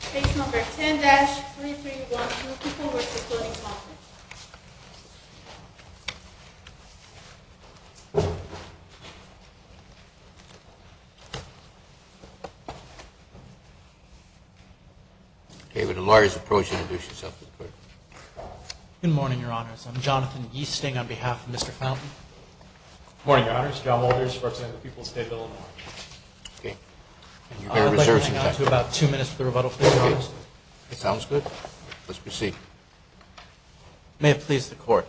Case number 10-2312, Pupil versus Fountain. Good morning, Your Honours. I'm Jonathan Yeasting on behalf of Mr. Fountain. Good morning, Your Honours. John Walters representing the Pupil State Bill of Rights. I'd like to move on to about two minutes for the rebuttal. It sounds good. Let's proceed. May it please the Court.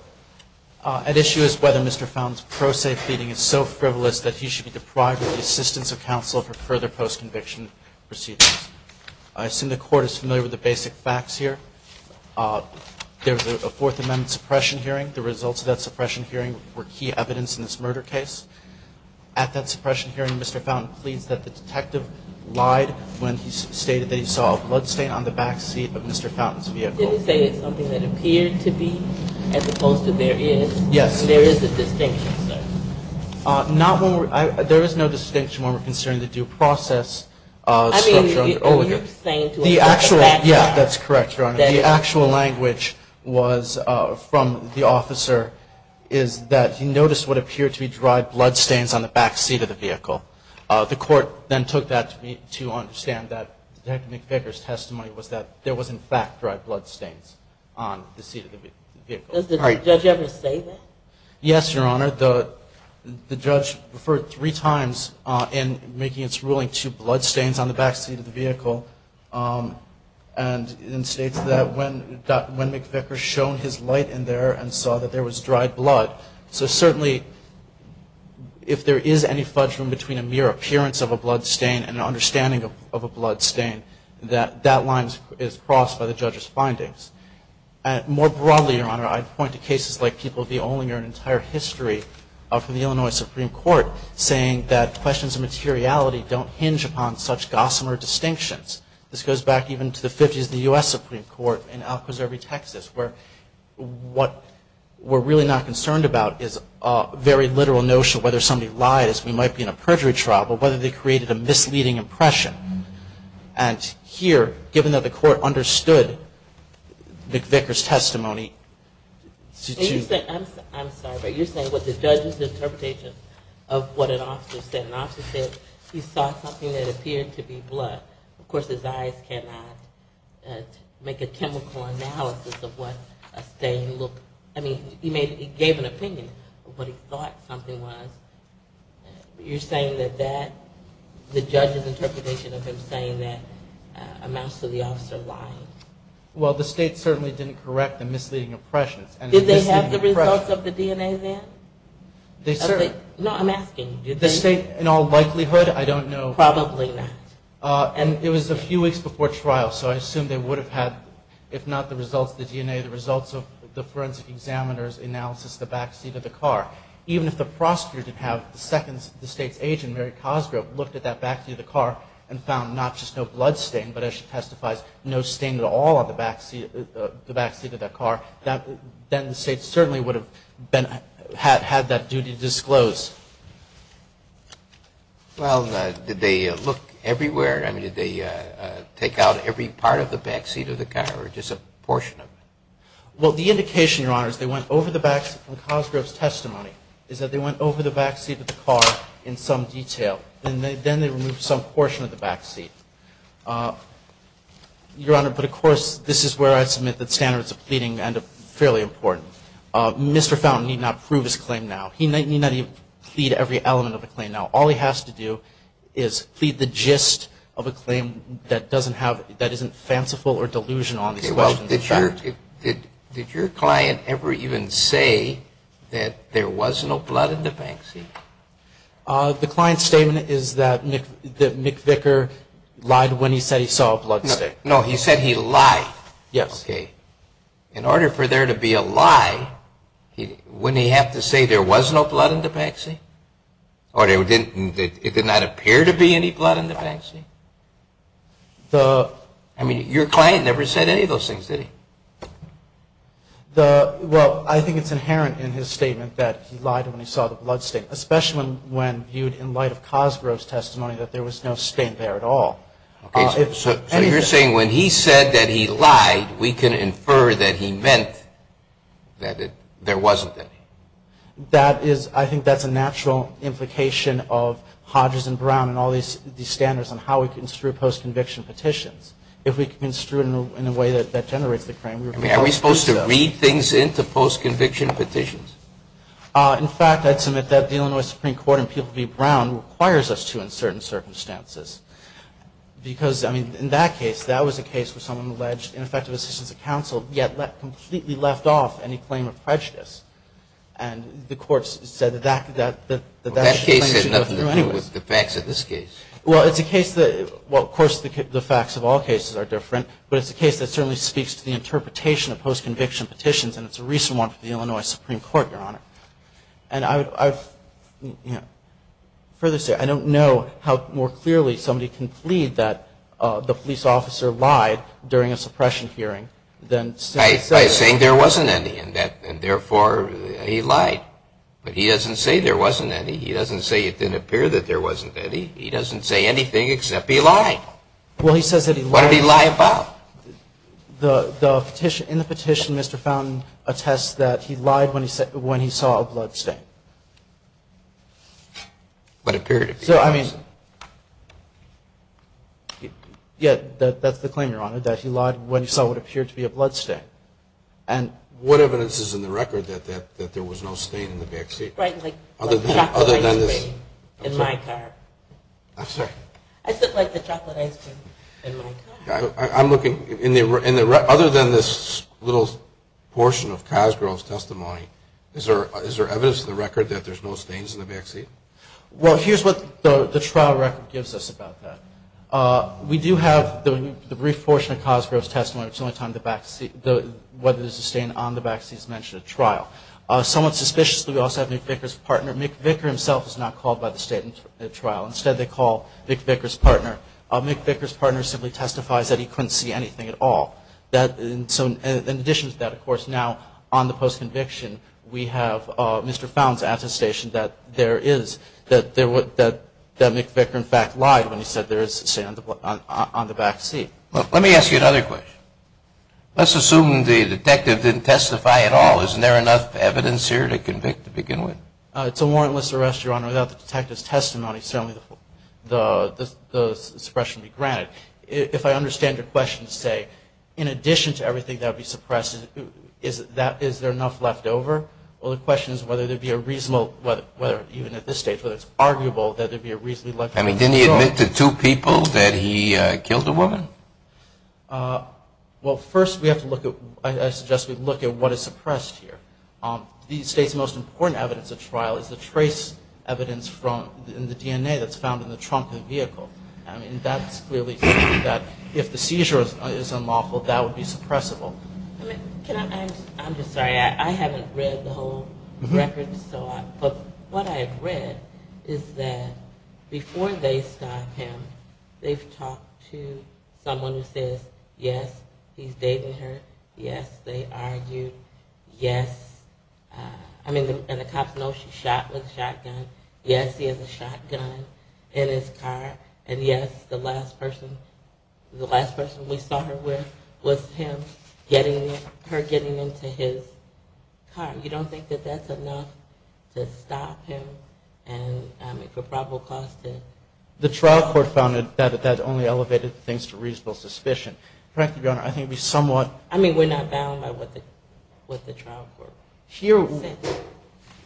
At issue is whether Mr. Fountain's pro se pleading is so frivolous that he should be deprived of the assistance of counsel for further post-conviction proceedings. I assume the Court is familiar with the basic facts here. There was a Fourth Amendment suppression hearing. The results of that suppression hearing were key evidence in this murder case. At that suppression hearing, Mr. Fountain pleads that the detective lied when he stated that he saw a bloodstain on the backseat of Mr. Fountain's vehicle. Did he say it's something that appeared to be as opposed to there is? Yes. There is a distinction, sir? There is no distinction when we're considering the due process structure. I mean, you're saying to us that's a fact. Yes, Your Honor. The actual language was from the officer is that he noticed what appeared to be dried bloodstains on the backseat of the vehicle. The Court then took that to understand that Detective McVicker's testimony was that there was in fact dried bloodstains on the seat of the vehicle. Does the judge ever say that? Yes, Your Honor. The judge referred three times in making its ruling to bloodstains on the backseat of the vehicle. And states that when McVicker shone his light in there and saw that there was dried blood. So certainly, if there is any fudge room between a mere appearance of a bloodstain and an understanding of a bloodstain, that line is crossed by the judge's findings. More broadly, Your Honor, I'd point to cases like people of the only or an entire history of the Illinois Supreme Court saying that questions of materiality don't hinge upon such gossamer distinctions. This goes back even to the fifties of the U.S. Supreme Court in Alcaservie, Texas, where what we're really not concerned about is a very literal notion of whether somebody lied, as we might be in a perjury trial, but whether they created a misleading impression. And here, given that the Court understood McVicker's testimony. I'm sorry, but you're saying what the judge's interpretation of what an officer said. An officer said he saw something that appeared to be blood. Of course, his eyes cannot make a chemical analysis of what a stain looked. I mean, he gave an opinion of what he thought something was. You're saying that the judge's interpretation of him saying that amounts to the officer lying? Well, the state certainly didn't correct the misleading impressions. Did they have the results of the DNA then? No, I'm asking, did they? The state, in all likelihood, I don't know. Probably not. It was a few weeks before trial, so I assume they would have had, if not the results of the DNA, the results of the forensic examiner's analysis of the backseat of the car. Even if the prosecutor didn't have, the second the State's agent, Mary Cosgrove, looked at that backseat of the car and found not just no blood stain, but as she testifies, no stain at all on the backseat of that car, then the State certainly would have had that duty to disclose. Well, did they look everywhere? I mean, did they take out every part of the backseat of the car or just a portion of it? Well, the indication, Your Honor, is they went over the backseat. And Cosgrove's testimony is that they went over the backseat of the car in some detail, and then they removed some portion of the backseat. Your Honor, but of course, this is where I submit that standards of pleading end up fairly important. Mr. Fountain need not prove his claim now. He need not plead every element of the claim now. All he has to do is plead the gist of a claim that doesn't have, that isn't fanciful or delusional on these questions. Did your client ever even say that there was no blood in the backseat? The client's statement is that Mick Vicker lied when he said he saw a blood stain. No, he said he lied. Yes. Okay. In order for there to be a lie, wouldn't he have to say there was no blood in the backseat? Or it did not appear to be any blood in the backseat? I mean, your client never said any of those things, did he? Well, I think it's inherent in his statement that he lied when he saw the blood stain, especially when viewed in light of Cosgrove's testimony that there was no stain there at all. So you're saying when he said that he lied, we can infer that he meant that there wasn't any? That is, I think that's a natural implication of Hodges and Brown and all these standards on how we construe post-conviction petitions. If we construe it in a way that generates the claim, we were probably supposed to do so. I mean, are we supposed to read things into post-conviction petitions? In fact, I'd submit that dealing with Supreme Court and people to be brown requires us to in certain circumstances. Because, I mean, in that case, that was a case where someone alleged ineffective assistance of counsel, yet completely left off any claim of prejudice. And the courts said that that should go through anyway. Well, that case had nothing to do with the facts of this case. Well, it's a case that, well, of course the facts of all cases are different, but it's a case that certainly speaks to the interpretation of post-conviction petitions, and it's a recent one for the Illinois Supreme Court, Your Honor. And I would, you know, further say I don't know how more clearly somebody can plead that the police officer lied during a suppression hearing than somebody said. He's saying there wasn't any, and therefore he lied. But he doesn't say there wasn't any. He doesn't say it didn't appear that there wasn't any. He doesn't say anything except he lied. Well, he says that he lied. What did he lie about? In the petition, Mr. Fountain attests that he lied when he saw a bloodstain. What appeared to be a bloodstain. So, I mean, yeah, that's the claim, Your Honor, that he lied when he saw what appeared to be a bloodstain. And what evidence is in the record that there was no stain in the backseat? Right, like the chocolate ice cream in my car. I'm sorry? I said like the chocolate ice cream in my car. I'm looking, other than this little portion of Cosgrove's testimony, is there evidence in the record that there's no stains in the backseat? Well, here's what the trial record gives us about that. We do have the brief portion of Cosgrove's testimony. It's the only time the backseat, whether there's a stain on the backseat is mentioned at trial. Somewhat suspiciously, we also have Mick Vicker's partner. Mick Vicker himself is not called by the State at trial. Instead, they call Mick Vicker's partner. Mick Vicker's partner simply testifies that he couldn't see anything at all. In addition to that, of course, now on the post-conviction, we have Mr. Found's attestation that there is, that Mick Vicker in fact lied when he said there is a stain on the backseat. Let me ask you another question. Let's assume the detective didn't testify at all. Isn't there enough evidence here to convict to begin with? It's a warrantless arrest, Your Honor. Without the detective's testimony, certainly the suppression would be granted. If I understand your question to say, in addition to everything that would be suppressed, is there enough left over? Well, the question is whether there would be a reasonable, whether even at this stage whether it's arguable that there would be a reasonably left over. I mean, didn't he admit to two people that he killed a woman? Well, first we have to look at, I suggest we look at what is suppressed here. The State's most important evidence at trial is the trace evidence in the DNA that's found in the trunk of the vehicle. I mean, that's really something that if the seizure is unlawful, that would be suppressible. I'm just sorry. I haven't read the whole record, but what I have read is that before they stop him, they've talked to someone who says, yes, he's dating her. Yes, they argued. Yes, I mean, and the cops know she's shot with a shotgun. Yes, he has a shotgun in his car. And yes, the last person we saw her with was him, her getting into his car. You don't think that that's enough to stop him and, I mean, for probable cause to. The trial court found that that only elevated things to reasonable suspicion. Frankly, Your Honor, I think it would be somewhat. I mean, we're not bound by what the trial court said.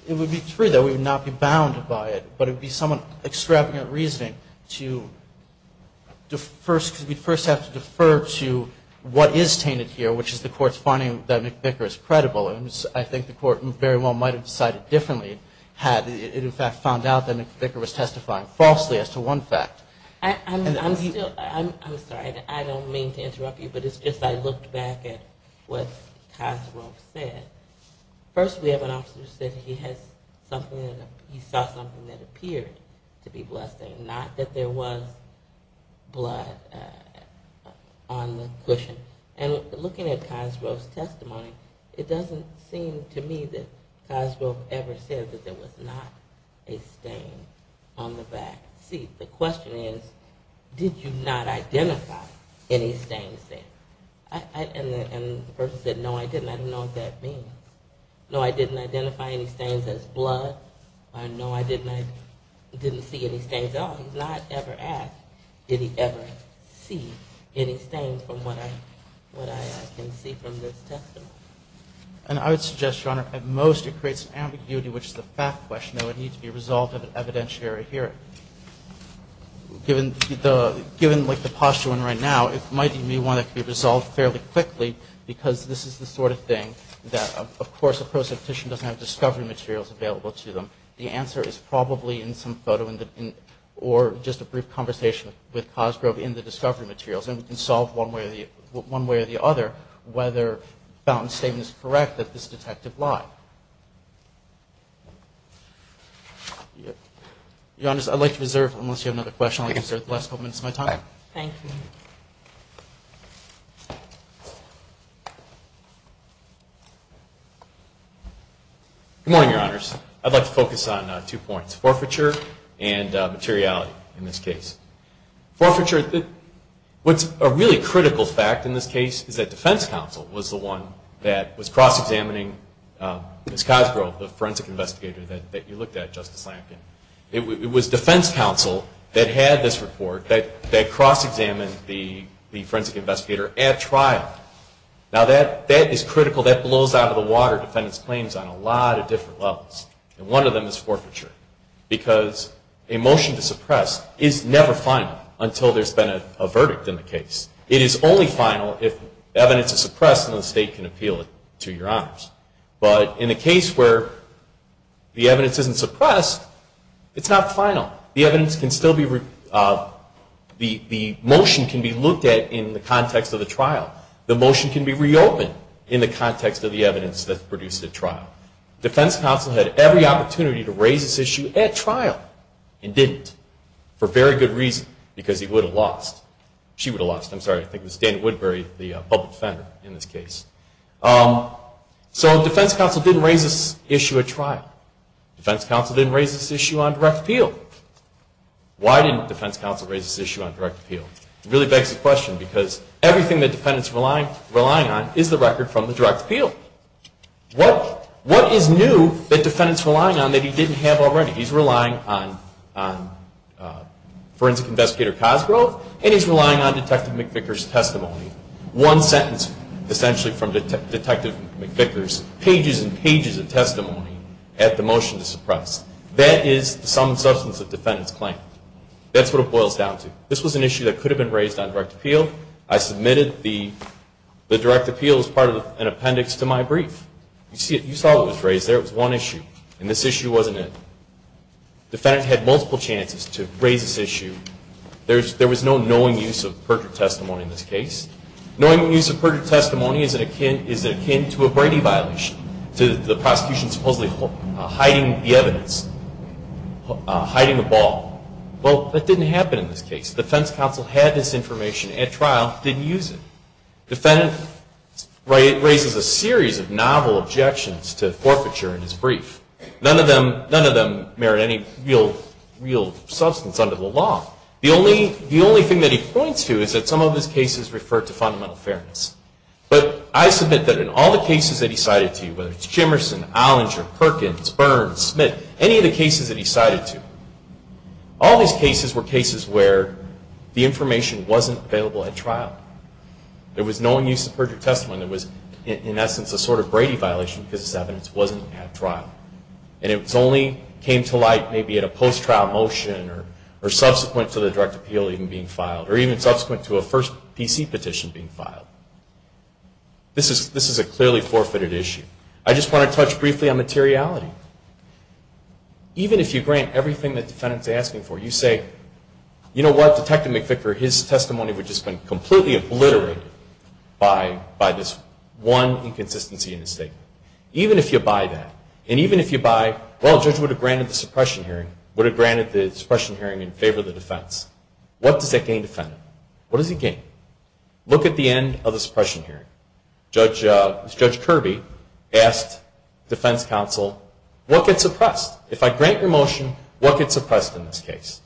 It would be true that we would not be bound by it, but it would be somewhat extravagant reasoning to first have to defer to what is tainted here, which is the court's finding that McVicker is credible. I think the court very well might have decided differently had it, in fact, found out that McVicker was testifying falsely as to one fact. I'm sorry. I don't mean to interrupt you, but if I looked back at what Cosgrove said, first we have an officer who said he saw something that appeared to be bloodstained, not that there was blood on the cushion. And looking at Cosgrove's testimony, it doesn't seem to me that Cosgrove ever said that there was not a stain on the back seat. The question is, did you not identify any stains there? And the person said, no, I didn't. I don't know what that means. No, I didn't identify any stains as blood. No, I didn't see any stains. Oh, he's not ever asked, did he ever see any stains from what I can see from this testimony. And I would suggest, Your Honor, at most it creates ambiguity, which is the fact question that would need to be resolved in an evidentiary hearing. Given, like, the posture one right now, it might be one that could be resolved fairly quickly, because this is the sort of thing that, of course, a prosecution doesn't have discovery materials available to them. The answer is probably in some photo or just a brief conversation with Cosgrove in the discovery materials, and we can solve one way or the other whether Fountain's statement is correct that this detective lied. Your Honor, I'd like to reserve, unless you have another question, I'd like to reserve the last couple minutes of my time. Thank you. Good morning, Your Honors. I'd like to focus on two points, forfeiture and materiality in this case. Forfeiture, what's a really critical fact in this case is that defense counsel was the one that was cross-examining Ms. Cosgrove, the forensic investigator that you looked at, Justice Lampkin. It was defense counsel that had this report that cross-examined the forensic investigator at trial. Now, that is critical. That blows out of the water defendants' claims on a lot of different levels, and one of them is forfeiture, because a motion to suppress is never final until there's been a verdict in the case. It is only final if evidence is suppressed and the state can appeal it to Your Honors. But in a case where the evidence isn't suppressed, it's not final. The motion can be looked at in the context of the trial. The motion can be reopened in the context of the evidence that's produced at trial. Defense counsel had every opportunity to raise this issue at trial and didn't, for very good reason, because he would have lost. She would have lost. I'm sorry, I think it was Dana Woodbury, the public defender in this case. So defense counsel didn't raise this issue at trial. Defense counsel didn't raise this issue on direct appeal. Why didn't defense counsel raise this issue on direct appeal? It really begs the question, because everything that defendants are relying on is the record from the direct appeal. What is new that defendants are relying on that he didn't have already? He's relying on Forensic Investigator Cosgrove, and he's relying on Detective McVicker's testimony. One sentence, essentially, from Detective McVicker's pages and pages of testimony at the motion to suppress. That is some substance that defendants claim. That's what it boils down to. This was an issue that could have been raised on direct appeal. I submitted the direct appeal as part of an appendix to my brief. You saw it was raised there. It was one issue, and this issue wasn't it. Defendant had multiple chances to raise this issue. There was no knowing use of perjured testimony in this case. Knowing use of perjured testimony is akin to a Brady violation, to the prosecution supposedly hiding the evidence, hiding the ball. Well, that didn't happen in this case. Defense counsel had this information at trial, didn't use it. Defendant raises a series of novel objections to forfeiture in his brief. None of them merit any real substance under the law. The only thing that he points to is that some of his cases refer to fundamental fairness. But I submit that in all the cases that he cited to you, whether it's Jimerson, Ollinger, Perkins, Burns, Smith, any of the cases that he cited to, all these cases were cases where the information wasn't available at trial. There was knowing use of perjured testimony that was, in essence, a sort of Brady violation because this evidence wasn't at trial. And it only came to light maybe at a post-trial motion or subsequent to the direct appeal even being filed, or even subsequent to a first PC petition being filed. This is a clearly forfeited issue. I just want to touch briefly on materiality. Even if you grant everything the defendant is asking for, you say, you know what, Detective McVicker, his testimony would just have been completely obliterated by this one inconsistency in his statement. Even if you buy that, and even if you buy, well, the judge would have granted the suppression hearing, would have granted the suppression hearing in favor of the defense, what does that gain the defendant? What does he gain? Look at the end of the suppression hearing. Judge Kirby asked defense counsel, what gets suppressed? If I grant your motion, what gets suppressed in this case?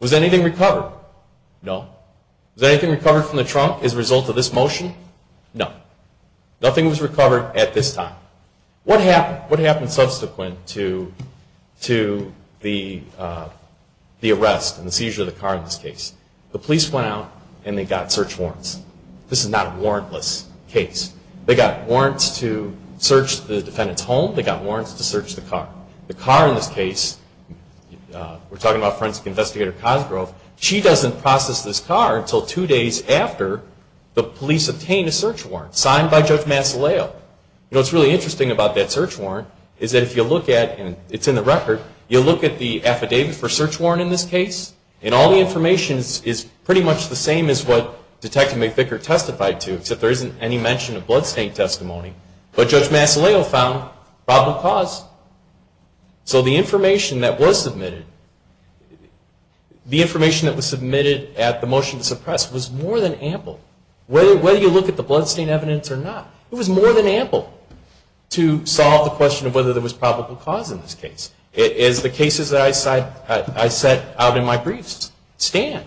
Was anything recovered? No. Was anything recovered from the trunk as a result of this motion? No. Nothing was recovered at this time. What happened subsequent to the arrest and the seizure of the car in this case? The police went out and they got search warrants. This is not a warrantless case. They got warrants to search the defendant's home. They got warrants to search the car. The car in this case, we're talking about Forensic Investigator Cosgrove, she doesn't process this car until two days after the police obtain a search warrant, signed by Judge Masoleo. What's really interesting about that search warrant is that if you look at, and it's in the record, you look at the affidavit for search warrant in this case, and all the information is pretty much the same as what Detective McVicker testified to, except there isn't any mention of bloodstain testimony. But Judge Masoleo found probable cause. So the information that was submitted, the information that was submitted at the motion to suppress was more than ample. Whether you look at the bloodstain evidence or not, it was more than ample to solve the question of whether there was probable cause in this case. As the cases that I set out in my briefs stand,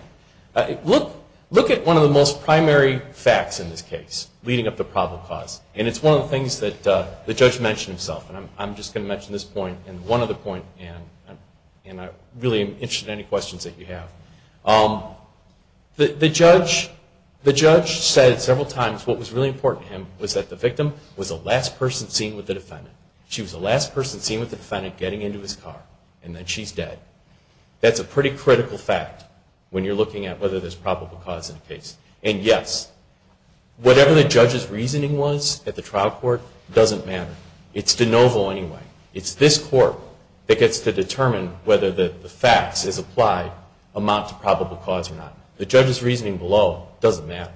look at one of the most primary facts in this case leading up to probable cause, and it's one of the things that the judge mentioned himself, and I'm just going to mention this point and one other point, and I'm really interested in any questions that you have. The judge said several times what was really important to him was that the victim was the last person seen with the defendant. She was the last person seen with the defendant getting into his car, and then she's dead. That's a pretty critical fact when you're looking at whether there's probable cause in a case. And yes, whatever the judge's reasoning was at the trial court doesn't matter. It's de novo anyway. It's this court that gets to determine whether the facts as applied amount to probable cause or not. The judge's reasoning below doesn't matter.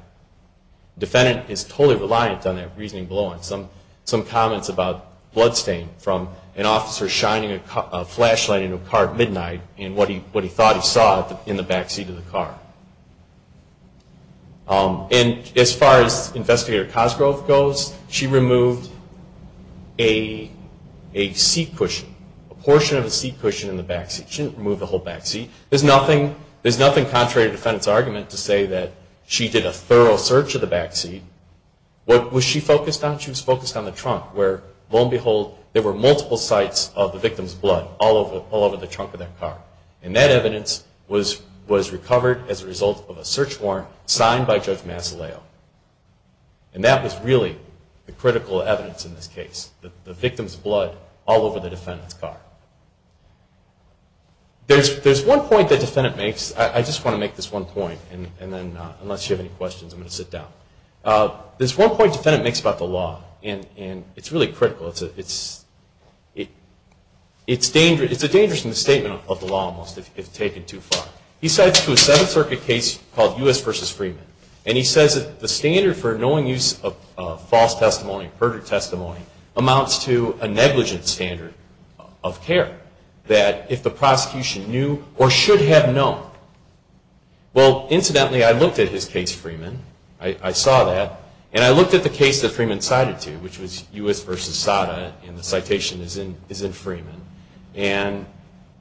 The defendant is totally reliant on that reasoning below and some comments about bloodstain from an officer shining a flashlight in a car at midnight and what he thought he saw in the backseat of the car. And as far as Investigator Cosgrove goes, she removed a seat cushion, a portion of a seat cushion in the backseat. She didn't remove the whole backseat. There's nothing contrary to the defendant's argument to say that she did a thorough search of the backseat. What was she focused on? She was focused on the trunk where, lo and behold, there were multiple sites of the victim's blood all over the trunk of that car. And that evidence was recovered as a result of a search warrant signed by Judge Massileo. And that was really the critical evidence in this case, the victim's blood all over the defendant's car. There's one point the defendant makes. I just want to make this one point and then, unless you have any questions, I'm going to sit down. There's one point the defendant makes about the law, and it's really critical. It's a dangerous misstatement of the law, almost, if taken too far. He cites to a Seventh Circuit case called U.S. v. Freeman, and he says that the standard for knowing use of false testimony, perjured testimony, amounts to a negligent standard of care, that if the prosecution knew or should have known. Well, incidentally, I looked at his case, Freeman. I saw that, and I looked at the case that Freeman cited to, which was U.S. v. Sada, and the citation is in Freeman. And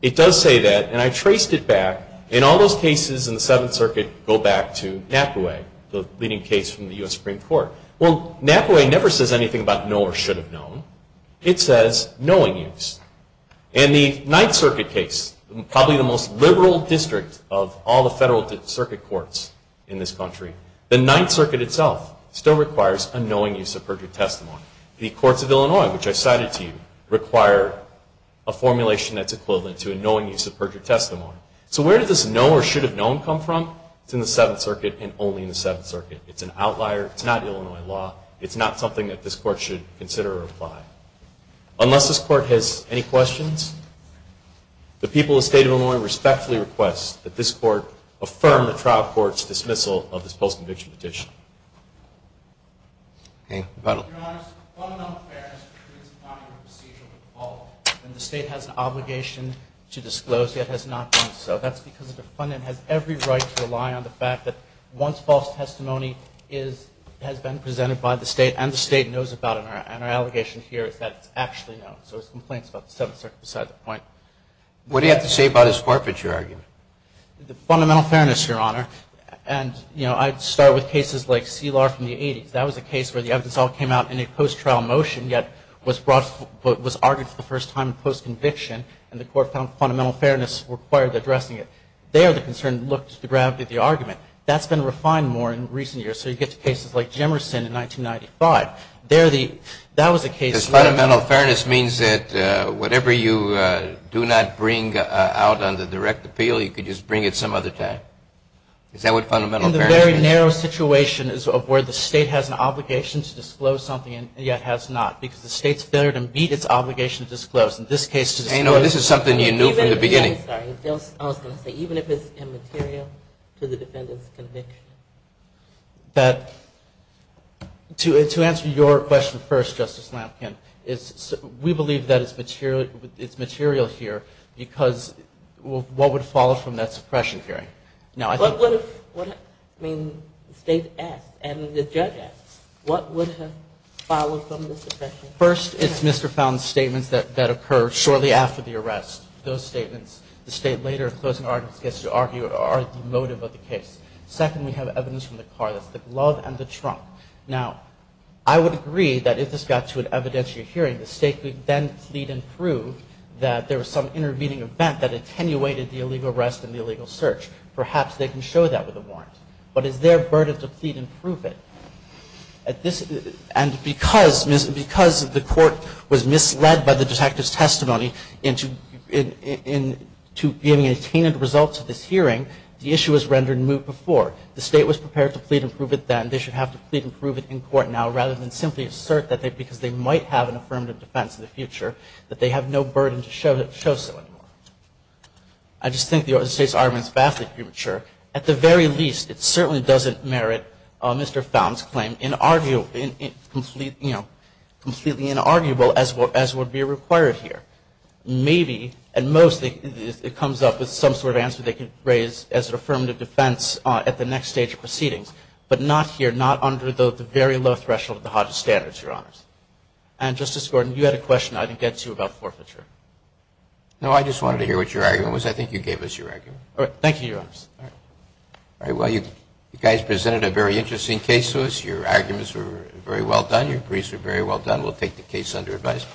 it does say that, and I traced it back. And all those cases in the Seventh Circuit go back to Napaway, the leading case from the U.S. Supreme Court. Well, Napaway never says anything about know or should have known. It says knowing use. In the Ninth Circuit case, probably the most liberal district of all the federal circuit courts in this country, the Ninth Circuit itself still requires a knowing use of perjured testimony. The courts of Illinois, which I cited to you, require a formulation that's equivalent to a knowing use of perjured testimony. So where did this know or should have known come from? It's in the Seventh Circuit, and only in the Seventh Circuit. It's an outlier. It's not Illinois law. It's not something that this court should consider or apply. Unless this court has any questions, the people of the state of Illinois respectfully request that this court affirm the trial court's dismissal of this post-conviction petition. Your Honors, defunding of affairs is not a procedural default, and the state has an obligation to disclose, yet has not done so. That's because the defendant has every right to rely on the fact that once false testimony has been presented by the state, and the state knows about it, and our allegation here is that it's actually known. So it's complaints about the Seventh Circuit beside the point. What do you have to say about his forfeiture argument? The fundamental fairness, Your Honor. And, you know, I'd start with cases like C. Lahr from the 80s. That was a case where the evidence all came out in a post-trial motion, yet was brought, was argued for the first time in post-conviction, and the court found fundamental fairness required addressing it. There, the concern looked to the gravity of the argument. That's been refined more in recent years. So you get to cases like Jemerson in 1995. There, the – that was a case where – Does fundamental fairness mean that whatever you do not bring out under direct appeal, you could just bring it some other time? Is that what fundamental fairness means? In the very narrow situation is where the state has an obligation to disclose something, and yet has not, because the state's better to meet its obligation to disclose. In this case, to disclose – I know. This is something you knew from the beginning. I'm sorry. I was going to say, even if it's immaterial to the defendant's conviction? That – to answer your question first, Justice Lampkin, we believe that it's material here because what would follow from that suppression hearing? Now, I think – But what if – I mean, the state asks, and the judge asks, what would have followed from the suppression hearing? First, it's Mr. Fountain's statements that occurred shortly after the arrest. Those statements the state later, in closing arguments, gets to argue are the motive of the case. Second, we have evidence from the car. That's the glove and the trunk. Now, I would agree that if this got to an evidentiary hearing, the state could then plead and prove that there was some intervening event that attenuated the illegal arrest and the illegal search. Perhaps they can show that with a warrant. But is there burden to plead and prove it? At this – and because the court was misled by the detective's testimony into giving attenuated results to this hearing, the issue was rendered moot before. The state was prepared to plead and prove it then. They should have to plead and prove it in court now rather than simply assert that because they might have an affirmative defense in the future, that they have no burden to show so anymore. I just think the state's argument is vastly premature. At the very least, it certainly doesn't merit Mr. Found's claim, completely inarguable as would be required here. Maybe, and mostly, it comes up with some sort of answer they could raise as an affirmative defense at the next stage of proceedings. But not here, not under the very low threshold of the hottest standards, Your Honors. And, Justice Gordon, you had a question I didn't get to about forfeiture. No, I just wanted to hear what your argument was. I think you gave us your argument. All right. Thank you, Your Honors. All right. Well, you guys presented a very interesting case to us. Your arguments were very well done. Your briefs were very well done. We'll take the case under advice.